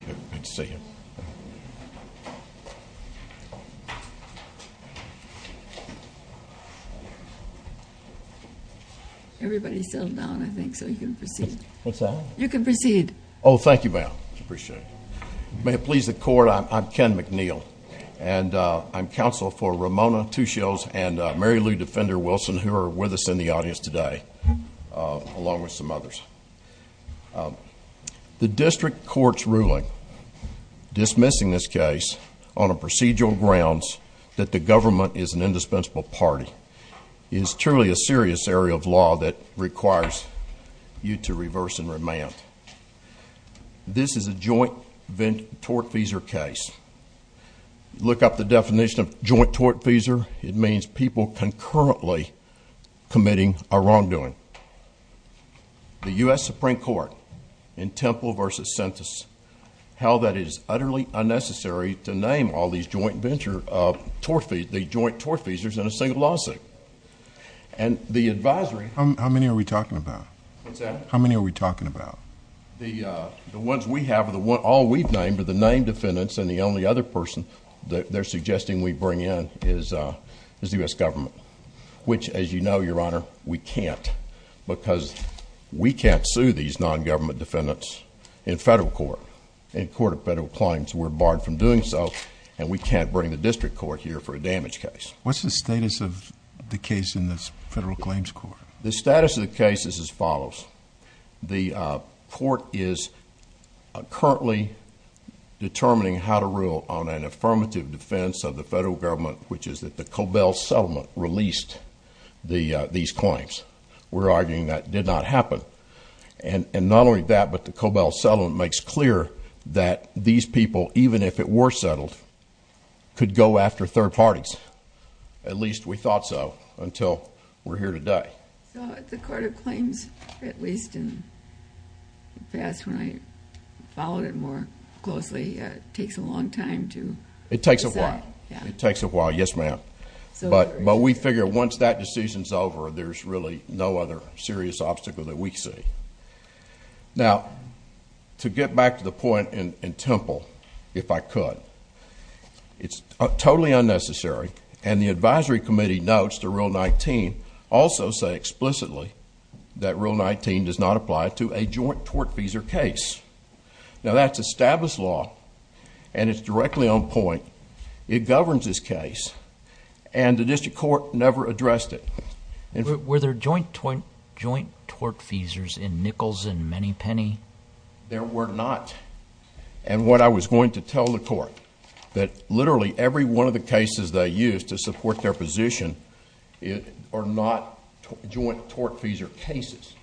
Good to see you. Everybody settle down, I think, so you can proceed. What's that? You can proceed. Oh, thank you, ma'am. I appreciate it. May it please the Court, I'm Ken McNeil, and I'm counsel for Ramona Two Shields and Mary Lou Defender Wilson, who are with us in the audience today, along with some others. The district court's ruling dismissing this case on procedural grounds that the government is an indispensable party is truly a serious area of law that requires you to reverse and remand. This is a joint tort-feasor case. Look up the definition of joint tort-feasor. It means people concurrently committing a wrongdoing. The U.S. Supreme Court in Temple v. Sentis held that it is utterly unnecessary to name all these joint tort-feasors in a single lawsuit. And the advisory— How many are we talking about? What's that? How many are we talking about? The ones we have, all we've named are the named defendants, and the only other person they're suggesting we bring in is the U.S. government, which, as you know, Your Honor, we can't, because we can't sue these nongovernment defendants in federal court, in court of federal claims. We're barred from doing so, and we can't bring the district court here for a damage case. What's the status of the case in the federal claims court? The status of the case is as follows. The court is currently determining how to rule on an affirmative defense of the federal government, which is that the Cobell settlement released these claims. We're arguing that did not happen. And not only that, but the Cobell settlement makes clear that these people, even if it were settled, could go after third parties. At least we thought so until we're here today. So the court of claims, at least in the past when I followed it more closely, takes a long time to decide. It takes a while. It takes a while, yes, ma'am. But we figure once that decision's over, there's really no other serious obstacle that we see. Now, to get back to the point in Temple, if I could, it's totally unnecessary, and the advisory committee notes to Rule 19 also say explicitly that Rule 19 does not apply to a joint tortfeasor case. Now, that's established law, and it's directly on point. It governs this case, and the district court never addressed it. Were there joint tortfeasors in Nichols and Manypenny? There were not. And what I was going to tell the court, that literally every one of the cases they used to support their position are not joint tortfeasor cases.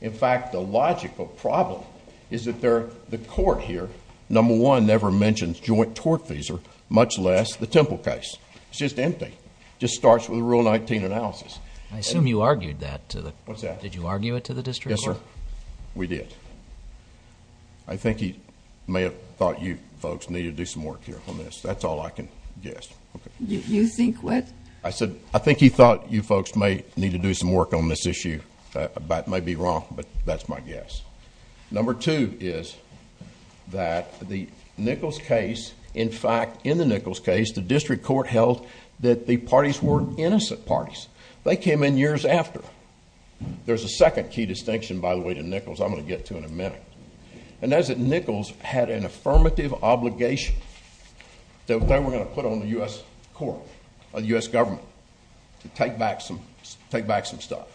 In fact, the logical problem is that the court here, number one, never mentions joint tortfeasor, much less the Temple case. It's just empty. It just starts with a Rule 19 analysis. I assume you argued that to the... What's that? Did you argue it to the district court? Yes, sir. We did. I think he may have thought you folks need to do some work here on this. That's all I can guess. You think what? I said, I think he thought you folks may need to do some work on this issue. That may be wrong, but that's my guess. Number two is that the Nichols case... In fact, in the Nichols case, the district court held that the parties were innocent parties. They came in years after. There's a second key distinction, by the way, to Nichols I'm going to get to in a minute. And that is that Nichols had an affirmative obligation that they were going to put on the U.S. court, the U.S. government, to take back some stuff.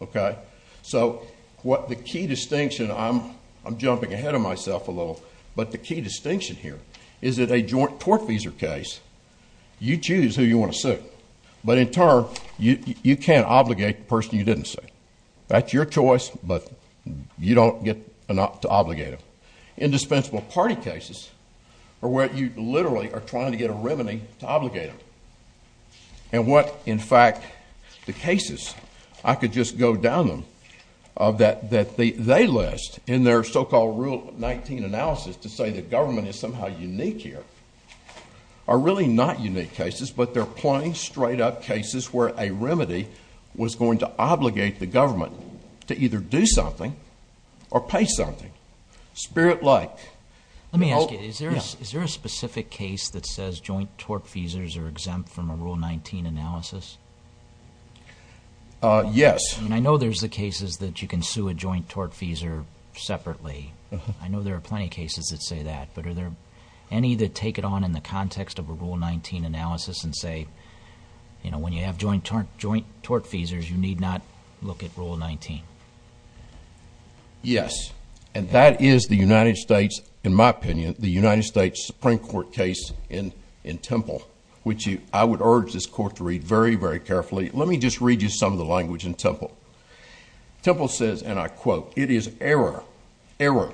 Okay? So, what the key distinction... I'm jumping ahead of myself a little. But the key distinction here is that a joint tortfeasor case, you choose who you want to sue. But in turn, you can't obligate the person you didn't sue. That's your choice, but you don't get to obligate them. Indispensable party cases are where you literally are trying to get a remedy to obligate them. And what, in fact, the cases... I could just go down them... that they list in their so-called Rule 19 analysis to say the government is somehow unique here... are really not unique cases, but they're plain, straight-up cases where a remedy was going to obligate the government to either do something or pay something. Spirit-like. Let me ask you. Is there a specific case that says joint tortfeasors are exempt from a Rule 19 analysis? Yes. And I know there's the cases that you can sue a joint tortfeasor separately. I know there are plenty of cases that say that. But are there any that take it on in the context of a Rule 19 analysis and say, you know, when you have joint tortfeasors, you need not look at Rule 19? Yes. And that is the United States, in my opinion, the United States Supreme Court case in Temple, which I would urge this Court to read very, very carefully. Let me just read you some of the language in Temple. Temple says, and I quote, It is error... error...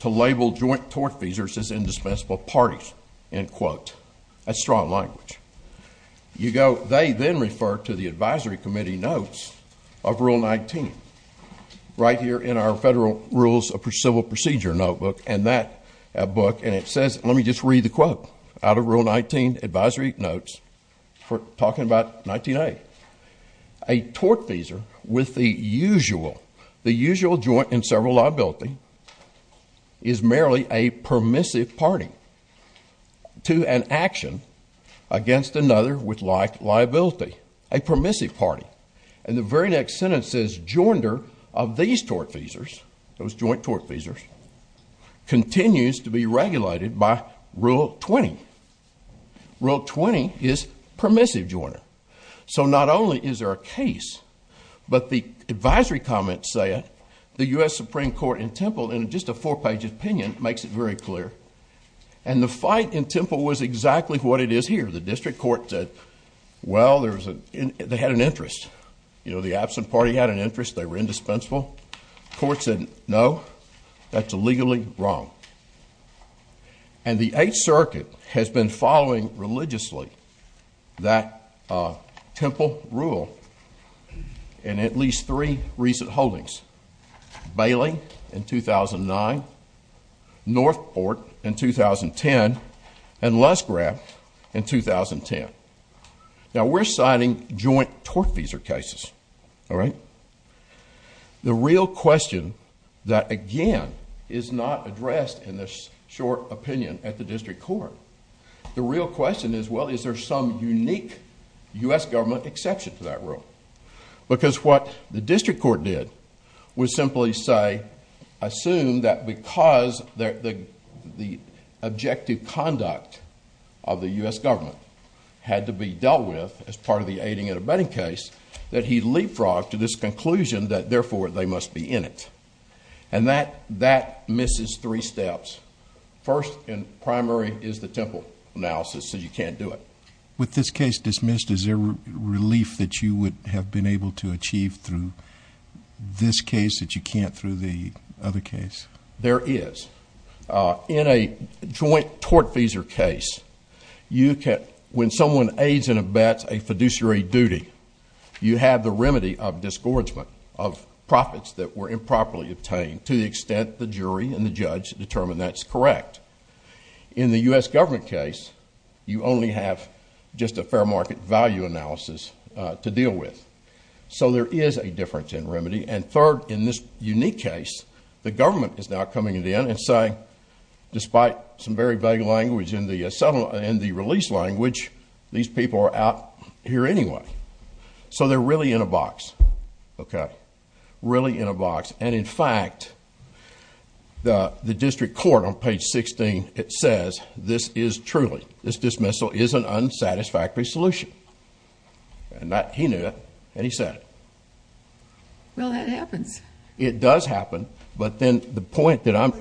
to label joint tortfeasors as indispensable parties. End quote. That's strong language. You go... they then refer to the advisory committee notes of Rule 19 right here in our Federal Rules of Civil Procedure notebook. And that book... and it says... let me just read the quote out of Rule 19 advisory notes for talking about 19A. A tortfeasor with the usual... the usual joint and several liability is merely a permissive party to an action against another with like liability. A permissive party. And the very next sentence says, Joinder of these tortfeasors... those joint tortfeasors... continues to be regulated by Rule 20. Rule 20 is permissive joinder. So, not only is there a case, but the advisory comments say it. The U.S. Supreme Court in Temple, in just a four-page opinion, makes it very clear. And the fight in Temple was exactly what it is here. The district court said, well, there's a... they had an interest. You know, the absent party had an interest. They were indispensable. The court said, no, that's illegally wrong. And the Eighth Circuit has been following religiously that Temple rule in at least three recent holdings. Bailey in 2009, Northport in 2010, and Lusgraff in 2010. Now, we're citing joint tortfeasor cases. All right? The real question that, again, is not addressed in this short opinion at the district court, the real question is, well, is there some unique U.S. government exception to that rule? Because what the district court did was simply say, assume that because the objective conduct of the U.S. government had to be dealt with as part of the aiding and abetting case, that he leapfrogged to this conclusion that, therefore, they must be in it. And that misses three steps. First and primary is the Temple analysis says you can't do it. With this case dismissed, is there relief that you would have been able to achieve through this case that you can't through the other case? There is. In a joint tortfeasor case, when someone aids and abets a fiduciary duty, you have the remedy of disgorgement of profits that were improperly obtained to the extent the jury and the judge determine that's correct. In the U.S. government case, you only have just a fair market value analysis to deal with. So there is a difference in remedy. And third, in this unique case, the government is now coming in and saying, despite some very vague language in the release language, these people are out here anyway. So they're really in a box. Okay? Really in a box. And, in fact, the district court on page 16, it says, this is truly, this dismissal is an unsatisfactory solution. And he knew it. And he said it. Well, that happens. It does happen. But then the point that I'm...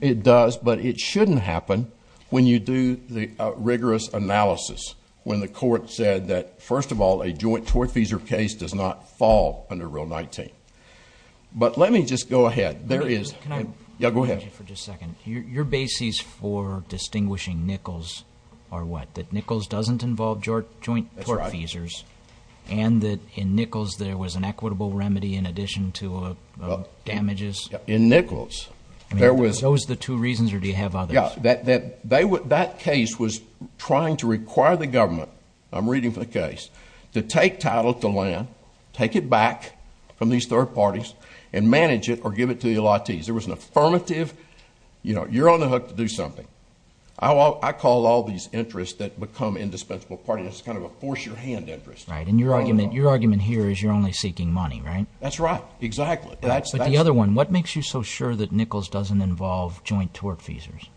It does, but it shouldn't happen when you do the rigorous analysis, when the court said that, first of all, a joint tortfeasor case does not fall under Rule 19. But let me just go ahead. There is... Yeah, go ahead. Your basis for distinguishing Nichols are what? That Nichols doesn't involve joint tortfeasors? That's right. And that, in Nichols, there was an equitable remedy in addition to damages? In Nichols, there was... Are those the two reasons, or do you have others? Yeah. That case was trying to require the government, I'm reading from the case, to take title to land, take it back from these third parties, and manage it or give it to the LITs. There was an affirmative, you know, you're on the hook to do something. I call all these interests that become indispensable parties. It's kind of a force-your-hand interest. Right. And your argument here is you're only seeking money, right? That's right. Exactly. But the other one, what makes you so sure that Nichols doesn't involve joint tortfeasors?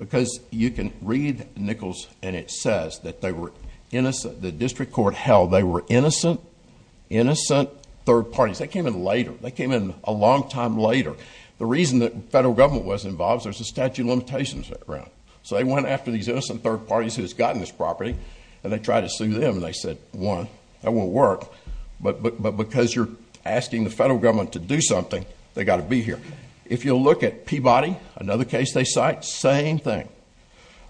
Because you can read Nichols, and it says that they were innocent. The district court held they were innocent, innocent third parties. They came in later. They came in a long time later. The reason the federal government wasn't involved is there's a statute of limitations around. So they went after these innocent third parties who had gotten this property, and they tried to sue them, and they said, one, that won't work, but because you're asking the federal government to do something, they've got to be here. If you look at Peabody, another case they cite, same thing.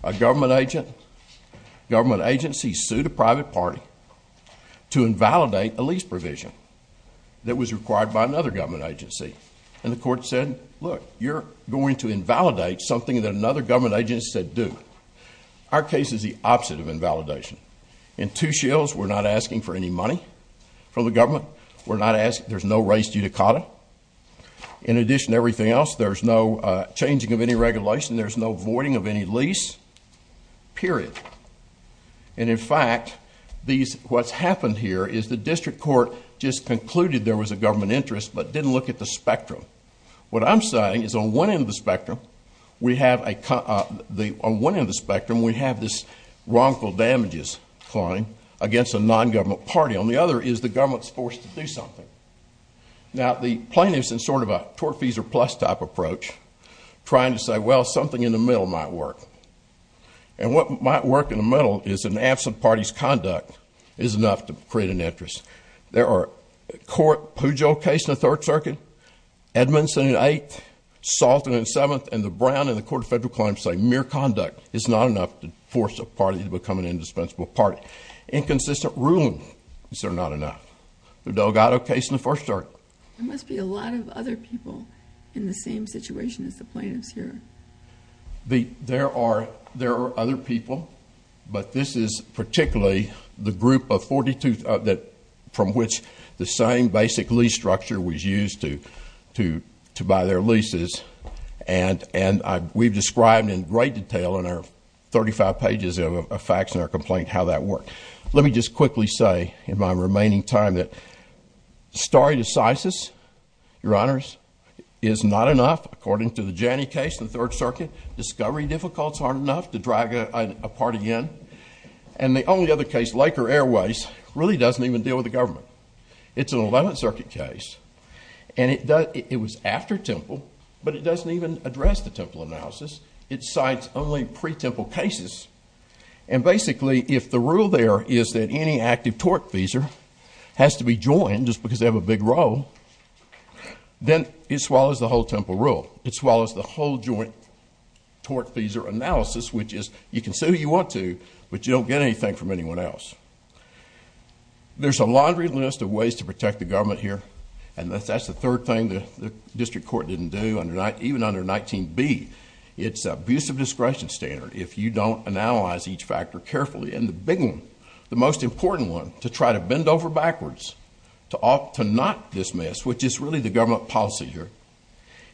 A government agency sued a private party to invalidate a lease provision that was required by another government agency, and the court said, look, you're going to invalidate something that another government agency said do. Our case is the opposite of invalidation. In two shills, we're not asking for any money from the government. We're not asking. There's no res judicata. In addition to everything else, there's no changing of any regulation. There's no voiding of any lease, period. And, in fact, what's happened here is the district court just concluded there was a government interest but didn't look at the spectrum. What I'm citing is on one end of the spectrum, we have this wrongful damages claim against a non-government party. On the other is the government's forced to do something. Now, the plaintiffs, in sort of a tort fees or plus type approach, trying to say, well, something in the middle might work. And what might work in the middle is an absent party's conduct is enough to create an interest. There are a court Pujo case in the Third Circuit, Edmondson in the Eighth, Salton in the Seventh, and the Brown in the Court of Federal Claims say mere conduct is not enough to force a party to become an indispensable party. Inconsistent ruling is there not enough. The Delgado case in the First Circuit. There must be a lot of other people in the same situation as the plaintiffs here. There are other people, but this is particularly the group from which the same basic lease structure was used to buy their leases. And we've described in great detail in our 35 pages of facts in our complaint how that worked. Let me just quickly say in my remaining time that stare decisis, Your Honors, is not enough, according to the Janney case in the Third Circuit. Discovery difficulties aren't enough to drag a party in. And the only other case, Laker Airways, really doesn't even deal with the government. It's an Eleventh Circuit case, and it was after Temple, but it doesn't even address the Temple analysis. It cites only pre-Temple cases. And basically, if the rule there is that any active tortfeasor has to be joined just because they have a big role, then it swallows the whole Temple rule. It swallows the whole joint tortfeasor analysis, which is you can say who you want to, but you don't get anything from anyone else. There's a laundry list of ways to protect the government here, and that's the third thing the district court didn't do, even under 19b. It's an abusive discretion standard if you don't analyze each factor carefully. And the big one, the most important one, to try to bend over backwards to not dismiss, which is really the government policy here,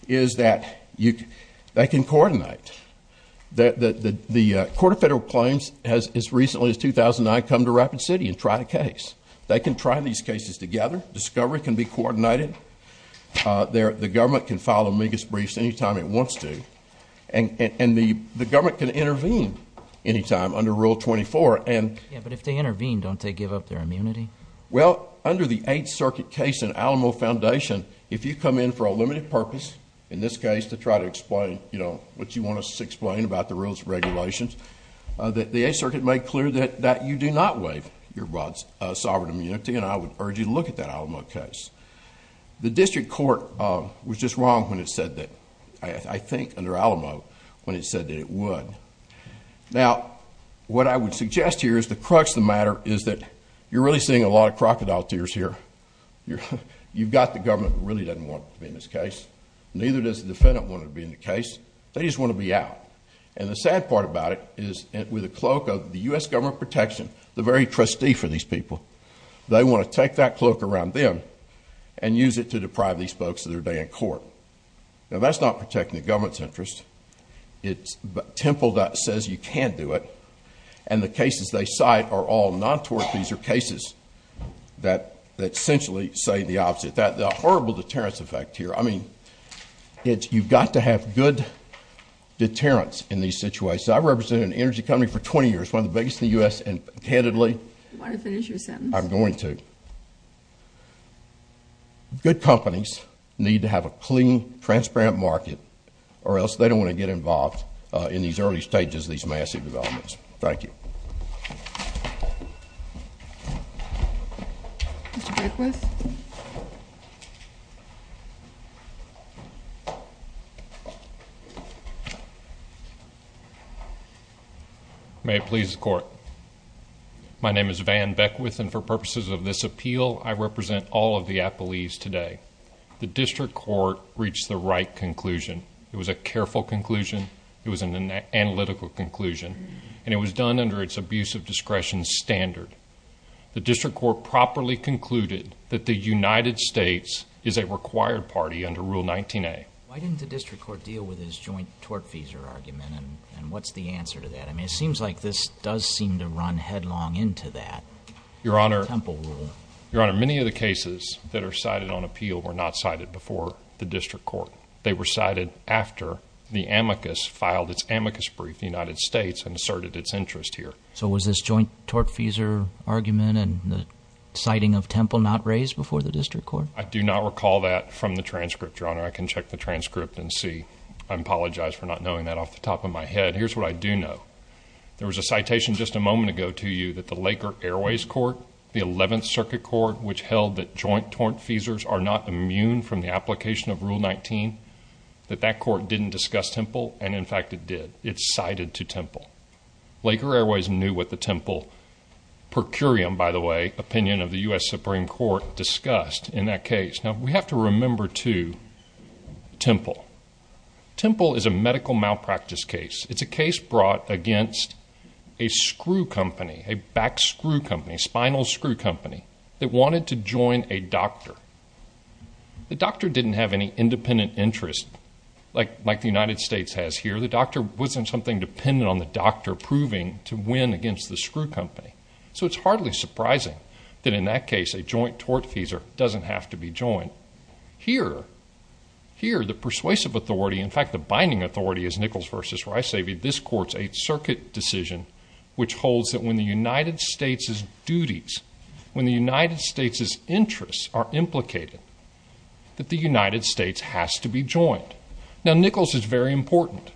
is that they can coordinate. The Court of Federal Claims has, as recently as 2009, come to Rapid City and tried a case. They can try these cases together. Discovery can be coordinated. The government can file amicus briefs any time it wants to, and the government can intervene any time under Rule 24. Yeah, but if they intervene, don't they give up their immunity? Well, under the Eighth Circuit case in Alamo Foundation, if you come in for a limited purpose, in this case to try to explain what you want us to explain about the rules and regulations, the Eighth Circuit made clear that you do not waive your sovereign immunity, and I would urge you to look at that Alamo case. The district court was just wrong when it said that, I think under Alamo, when it said that it would. Now, what I would suggest here is the crux of the matter is that you're really seeing a lot of crocodile tears here. You've got the government who really doesn't want to be in this case. Neither does the defendant wanting to be in the case. They just want to be out. And the sad part about it is, with a cloak of the U.S. Government of Protection, the very trustee for these people, they want to take that cloak around them and use it to deprive these folks of their day in court. Now, that's not protecting the government's interest. It's a temple that says you can't do it, and the cases they cite are all non-tort pleaser cases that essentially say the opposite. The horrible deterrence effect here, I mean, you've got to have good deterrence in these situations. I've represented an energy company for 20 years, one of the biggest in the U.S. And candidly- Do you want to finish your sentence? I'm going to. Good companies need to have a clean, transparent market, or else they don't want to get involved in these early stages of these massive developments. Thank you. Mr. Beckwith? May it please the Court. My name is Van Beckwith, and for purposes of this appeal, I represent all of the appellees today. The district court reached the right conclusion. It was a careful conclusion, it was an analytical conclusion, and it was done under its abuse of discretion standard. The district court properly concluded that the United States is a required party under Rule 19A. Why didn't the district court deal with this joint tort pleaser argument, and what's the answer to that? I mean, it seems like this does seem to run headlong into that temple rule. Your Honor, many of the cases that are cited on appeal were not cited before the district court. They were cited after the amicus filed its amicus brief, the United States, and asserted its interest here. So was this joint tort pleaser argument and the citing of temple not raised before the district court? I do not recall that from the transcript, Your Honor. I can check the transcript and see. I apologize for not knowing that off the top of my head. Here's what I do know. There was a citation just a moment ago to you that the Laker Airways Court, the 11th Circuit Court, which held that joint tort pleasers are not immune from the application of Rule 19, that that court didn't discuss temple, and in fact it did. It cited to temple. Laker Airways knew what the temple per curiam, by the way, opinion of the U.S. Supreme Court discussed in that case. Now, we have to remember, too, temple. Temple is a medical malpractice case. It's a case brought against a screw company, a back screw company, spinal screw company that wanted to join a doctor. The doctor didn't have any independent interest like the United States has here. The doctor wasn't something dependent on the doctor proving to win against the screw company. So it's hardly surprising that in that case a joint tort pleaser doesn't have to be joined. Here, the persuasive authority, in fact, the binding authority is Nichols v. Rice-Avey, this court's 8th Circuit decision, which holds that when the United States' duties, when the United States' interests are implicated, that the United States has to be joined. Now, Nichols is very important.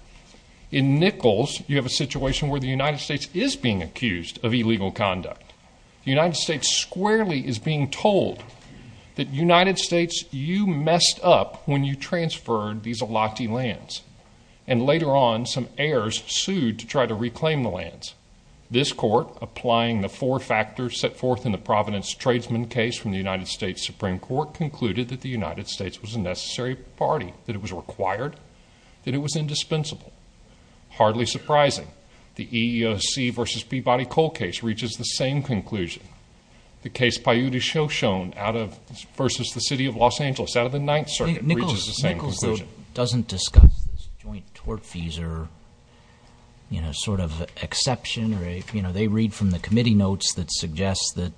In Nichols, you have a situation where the United States is being accused of illegal conduct. The United States squarely is being told that United States, you messed up when you transferred these elati lands. And later on, some heirs sued to try to reclaim the lands. This court, applying the four factors set forth in the Providence tradesman case from the United States Supreme Court, concluded that the United States was a necessary party, that it was required, that it was indispensable. Hardly surprising. The EEOC v. Peabody-Cole case reaches the same conclusion. The case Paiute-Choshone versus the City of Los Angeles out of the 9th Circuit reaches the same conclusion. Nichols doesn't discuss this joint tort pleaser sort of exception. They read from the committee notes that suggest that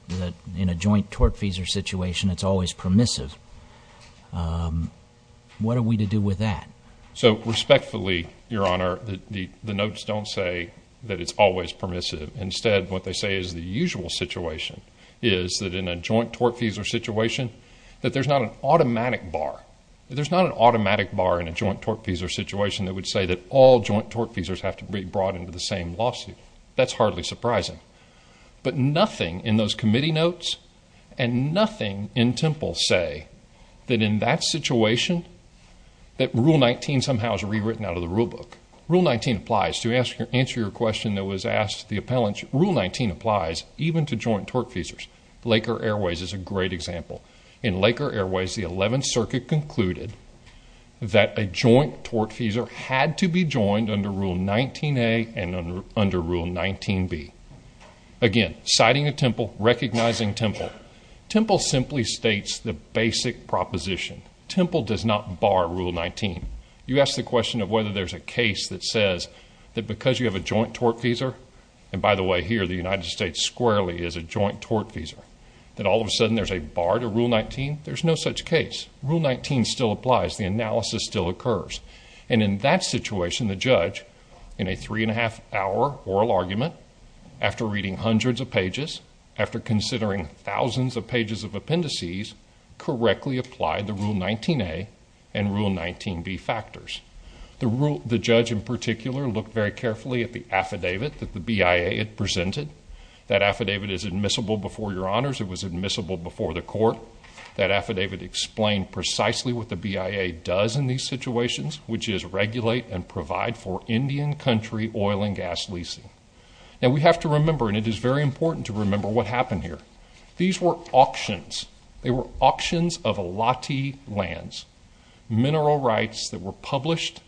in a joint tort pleaser situation, it's always permissive. What are we to do with that? So, respectfully, Your Honor, the notes don't say that it's always permissive. Instead, what they say is the usual situation is that in a joint tort pleaser situation, that there's not an automatic bar. In a joint tort pleaser situation, it would say that all joint tort pleasers have to be brought into the same lawsuit. That's hardly surprising. But nothing in those committee notes and nothing in Temple say that in that situation, that Rule 19 somehow is rewritten out of the rule book. Rule 19 applies. To answer your question that was asked to the appellants, Rule 19 applies even to joint tort pleasers. Laker Airways is a great example. In Laker Airways, the 11th Circuit concluded that a joint tort pleaser had to be joined under Rule 19A and under Rule 19B. Again, citing a Temple, recognizing Temple. Temple simply states the basic proposition. Temple does not bar Rule 19. You ask the question of whether there's a case that says that because you have a joint tort pleaser, and by the way, here, the United States squarely is a joint tort pleaser, that all of a sudden there's a bar to Rule 19. There's no such case. Rule 19 still applies. The analysis still occurs. And in that situation, the judge, in a three-and-a-half-hour oral argument, after reading hundreds of pages, after considering thousands of pages of appendices, correctly applied the Rule 19A and Rule 19B factors. The judge, in particular, looked very carefully at the affidavit that the BIA had presented. That affidavit is admissible before your honors. It was admissible before the court. That affidavit explained precisely what the BIA does in these situations, which is regulate and provide for Indian country oil and gas leasing. Now, we have to remember, and it is very important to remember what happened here. These were auctions. They were auctions of elati lands, mineral rights that were published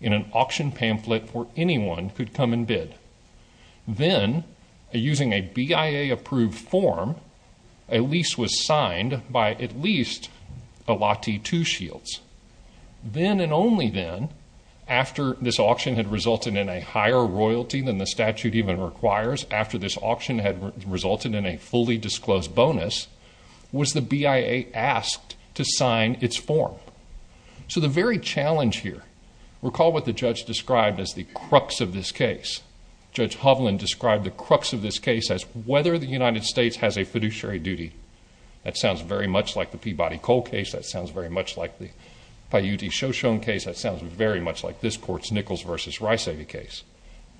in an auction pamphlet where anyone could come and bid. Then, using a BIA-approved form, a lease was signed by at least elati two shields. Then and only then, after this auction had resulted in a higher royalty than the statute even requires, after this auction had resulted in a fully disclosed bonus, was the BIA asked to sign its form. So, the very challenge here, recall what the judge described as the crux of this case. Judge Hovland described the crux of this case as whether the United States has a fiduciary duty. That sounds very much like the Peabody-Cole case. That sounds very much like the Paiute-Shoshone case. That sounds very much like this court's Nichols v. Reissig case.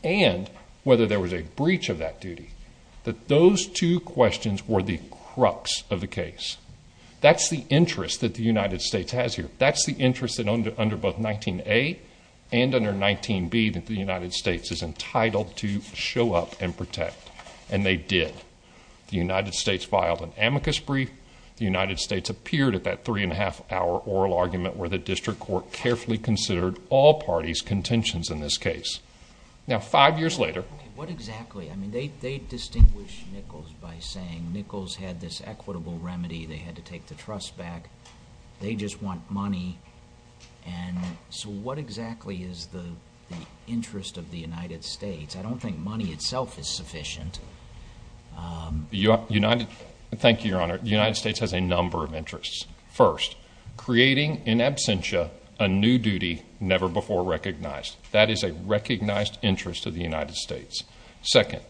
And whether there was a breach of that duty, that those two questions were the crux of the case. That's the interest that the United States has here. That's the interest under both 19A and under 19B that the United States is entitled to show up and protect. And they did. The United States filed an amicus brief. The United States appeared at that three-and-a-half-hour oral argument where the district court carefully considered all parties' contentions in this case. Now, five years later... Okay, what exactly? I mean, they distinguish Nichols by saying Nichols had this equitable remedy. They had to take the trust back. They just want money. And so what exactly is the interest of the United States? I don't think money itself is sufficient. Thank you, Your Honor. The United States has a number of interests. First, creating in absentia a new duty never before recognized. That is a recognized interest of the United States. Second,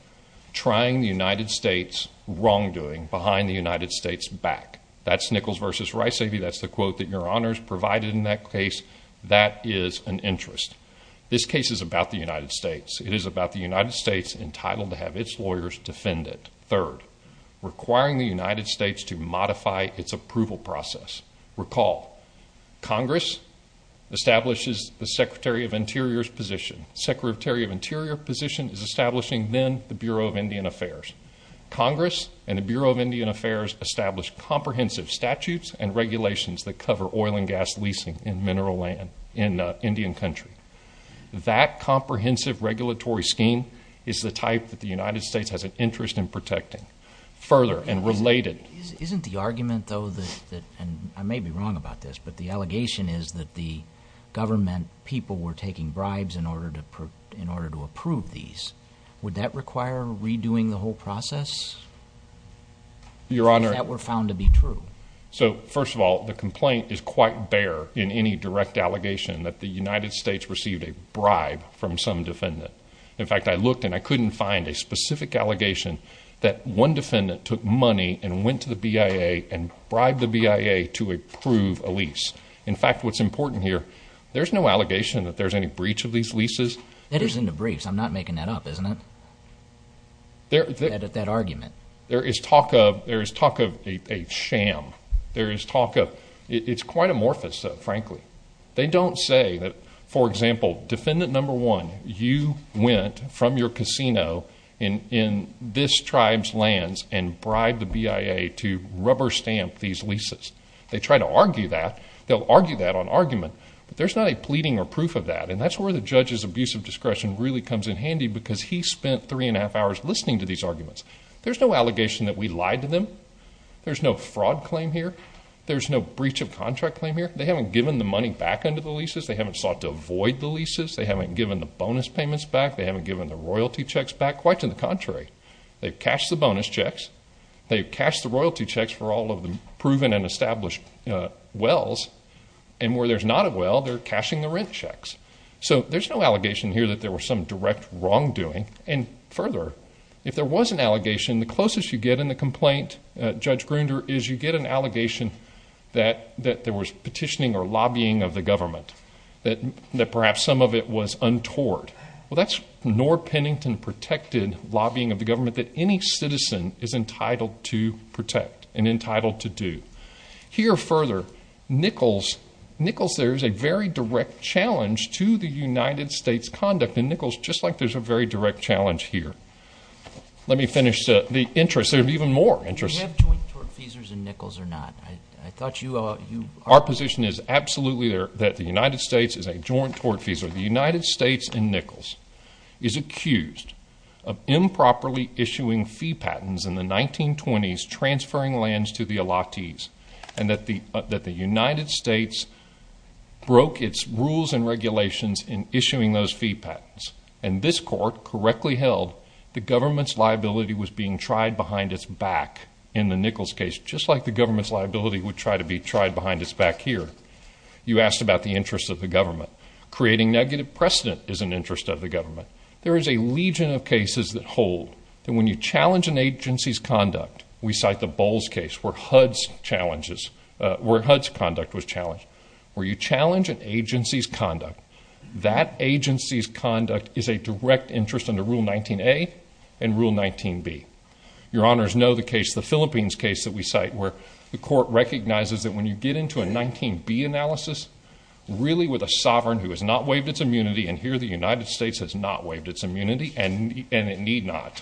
trying the United States' wrongdoing behind the United States back. That's Nichols v. Riceavy. That's the quote that Your Honor has provided in that case. That is an interest. This case is about the United States. It is about the United States entitled to have its lawyers defend it. Third, requiring the United States to modify its approval process. Recall, Congress establishes the Secretary of Interior's position. The Secretary of Interior position is establishing then the Bureau of Indian Affairs. Congress and the Bureau of Indian Affairs establish comprehensive statutes and regulations that cover oil and gas leasing in mineral land in Indian Country. That comprehensive regulatory scheme is the type that the United States has an interest in protecting. Further, and related... I may be wrong about this, but the allegation is that the government people were taking bribes in order to approve these. Would that require redoing the whole process? If that were found to be true. First of all, the complaint is quite bare in any direct allegation that the United States received a bribe from some defendant. In fact, I looked and I couldn't find a specific allegation that one defendant took money and went to the BIA and bribed the BIA to approve a lease. In fact, what's important here, there's no allegation that there's any breach of these leases. That isn't a breach. I'm not making that up, isn't it? That argument. There is talk of a sham. There is talk of... It's quite amorphous, frankly. They don't say that, for example, defendant number one, you went from your casino in this tribe's lands and bribed the BIA to rubber stamp these leases. They try to argue that. They'll argue that on argument. But there's not a pleading or proof of that. And that's where the judge's abuse of discretion really comes in handy because he spent three and a half hours listening to these arguments. There's no allegation that we lied to them. There's no fraud claim here. There's no breach of contract claim here. They haven't given the money back under the leases. They haven't sought to avoid the leases. They haven't given the bonus payments back. They haven't given the royalty checks back. Quite to the contrary, they've cashed the bonus checks. They've cashed the royalty checks for all of the proven and established wells. And where there's not a well, they're cashing the rent checks. So there's no allegation here that there was some direct wrongdoing. And further, if there was an allegation, the closest you get in the complaint, Judge Grunder, is you get an allegation that there was petitioning or lobbying of the government, that perhaps some of it was untoward. Well, that's nor Pennington-protected lobbying of the government that any citizen is entitled to protect and entitled to do. Here further, Nichols says there's a very direct challenge to the United States conduct. And Nichols, just like there's a very direct challenge here. Let me finish the interest. Yes, there's even more interest. Do you have joint tort feasors in Nichols or not? I thought you are. Our position is absolutely that the United States is a joint tort feasor. The United States in Nichols is accused of improperly issuing fee patents in the 1920s, transferring lands to the Alatis, and that the United States broke its rules and regulations in issuing those fee patents. And this court correctly held the government's liability was being tried behind its back in the Nichols case, just like the government's liability would try to be tried behind its back here. You asked about the interest of the government. Creating negative precedent is an interest of the government. There is a legion of cases that hold that when you challenge an agency's conduct, we cite the Bowles case where HUD's conduct was challenged. Where you challenge an agency's conduct, that agency's conduct is a direct interest under Rule 19A and Rule 19B. Your Honors, know the case, the Philippines case that we cite, where the court recognizes that when you get into a 19B analysis, really with a sovereign who has not waived its immunity, and here the United States has not waived its immunity, and it need not.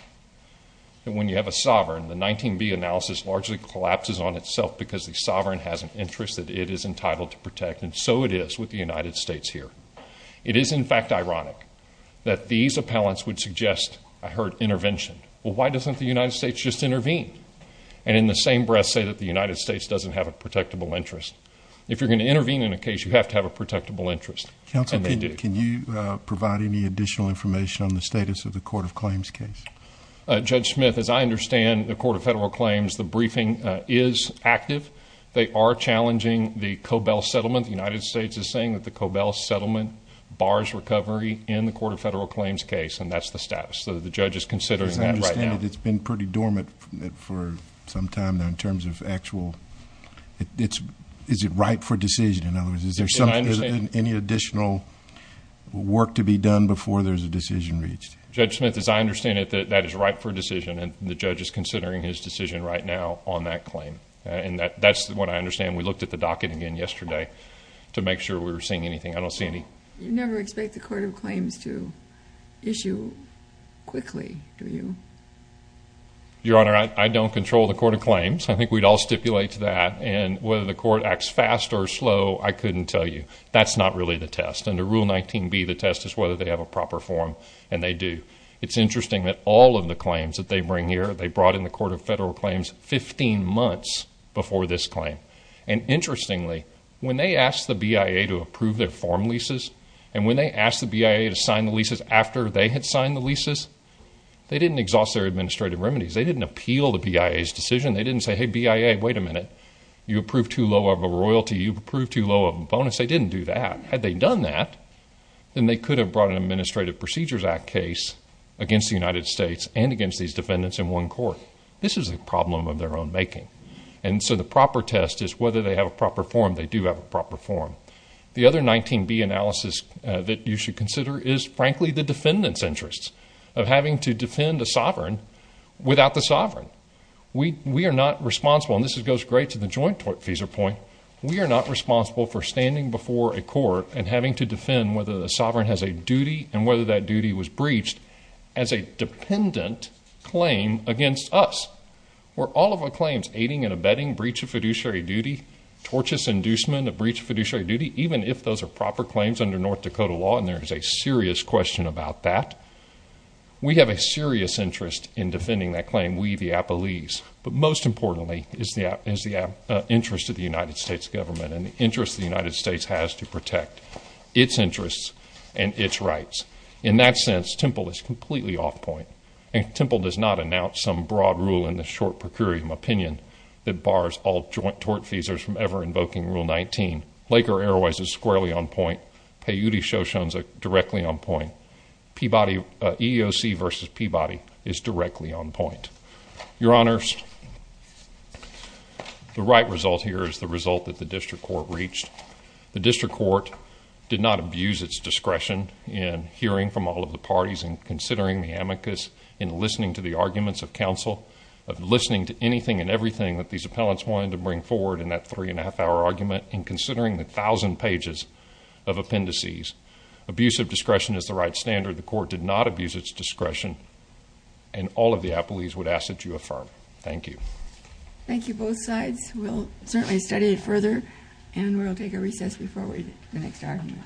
And when you have a sovereign, the 19B analysis largely collapses on itself because the sovereign has an interest that it is entitled to protect, and so it is with the United States here. It is, in fact, ironic that these appellants would suggest, I heard, intervention. Well, why doesn't the United States just intervene and in the same breath say that the United States doesn't have a protectable interest? If you're going to intervene in a case, you have to have a protectable interest, and they do. Counsel, can you provide any additional information on the status of the Court of Claims case? Judge Smith, as I understand, the Court of Federal Claims, the briefing is active. They are challenging the Cobell Settlement. The United States is saying that the Cobell Settlement bars recovery in the Court of Federal Claims case, and that's the status. So the judge is considering that right now. As I understand it, it's been pretty dormant for some time now in terms of actual... Is it ripe for decision? In other words, is there any additional work to be done before there's a decision reached? Judge Smith, as I understand it, that is ripe for decision, and the judge is considering his decision right now on that claim. And that's what I understand. We looked at the docket again yesterday to make sure we were seeing anything. I don't see any... You never expect the Court of Claims to issue quickly, do you? Your Honor, I don't control the Court of Claims. I think we'd all stipulate to that. And whether the court acts fast or slow, I couldn't tell you. That's not really the test. Under Rule 19B, the test is whether they have a proper form, and they do. It's interesting that all of the claims that they bring here, they brought in the Court of Federal Claims 15 months before this claim. And interestingly, when they asked the BIA to approve their form leases, and when they asked the BIA to sign the leases after they had signed the leases, they didn't exhaust their administrative remedies. They didn't appeal the BIA's decision. They didn't say, hey, BIA, wait a minute. You approved too low of a royalty. You approved too low of a bonus. They didn't do that. Had they done that, then they could have brought an Administrative Procedures Act case against the United States and against these defendants in one court. This is a problem of their own making. And so the proper test is whether they have a proper form. They do have a proper form. The other 19B analysis that you should consider is, frankly, the defendants' interests of having to defend a sovereign without the sovereign. We are not responsible, and this goes great to the Joint FISA point, we are not responsible for standing before a court and having to defend whether the sovereign has a duty and whether that duty was breached as a dependent claim against us. Where all of our claims, aiding and abetting, breach of fiduciary duty, tortious inducement of breach of fiduciary duty, even if those are proper claims under North Dakota law, and there is a serious question about that, we have a serious interest in defending that claim, we the appellees. But most importantly is the interest of the United States government and the interest the United States has to protect its interests and its rights. In that sense, Temple is completely off point. Temple does not announce some broad rule in the short procurium opinion that bars all joint tort fees from ever invoking Rule 19. Laker Airways is squarely on point. Peyote Shoshone is directly on point. EEOC versus Peabody is directly on point. Your Honors, the right result here is the result that the district court reached. The district court did not abuse its discretion in hearing from all of the parties and considering the amicus, in listening to the arguments of counsel, of listening to anything and everything that these appellants wanted to bring forward in that three and a half hour argument, in considering the thousand pages of appendices. Abusive discretion is the right standard. The court did not abuse its discretion and all of the appellees would ask that you affirm. Thank you. Thank you, both sides. We'll certainly study it further and we'll take a recess before the next argument.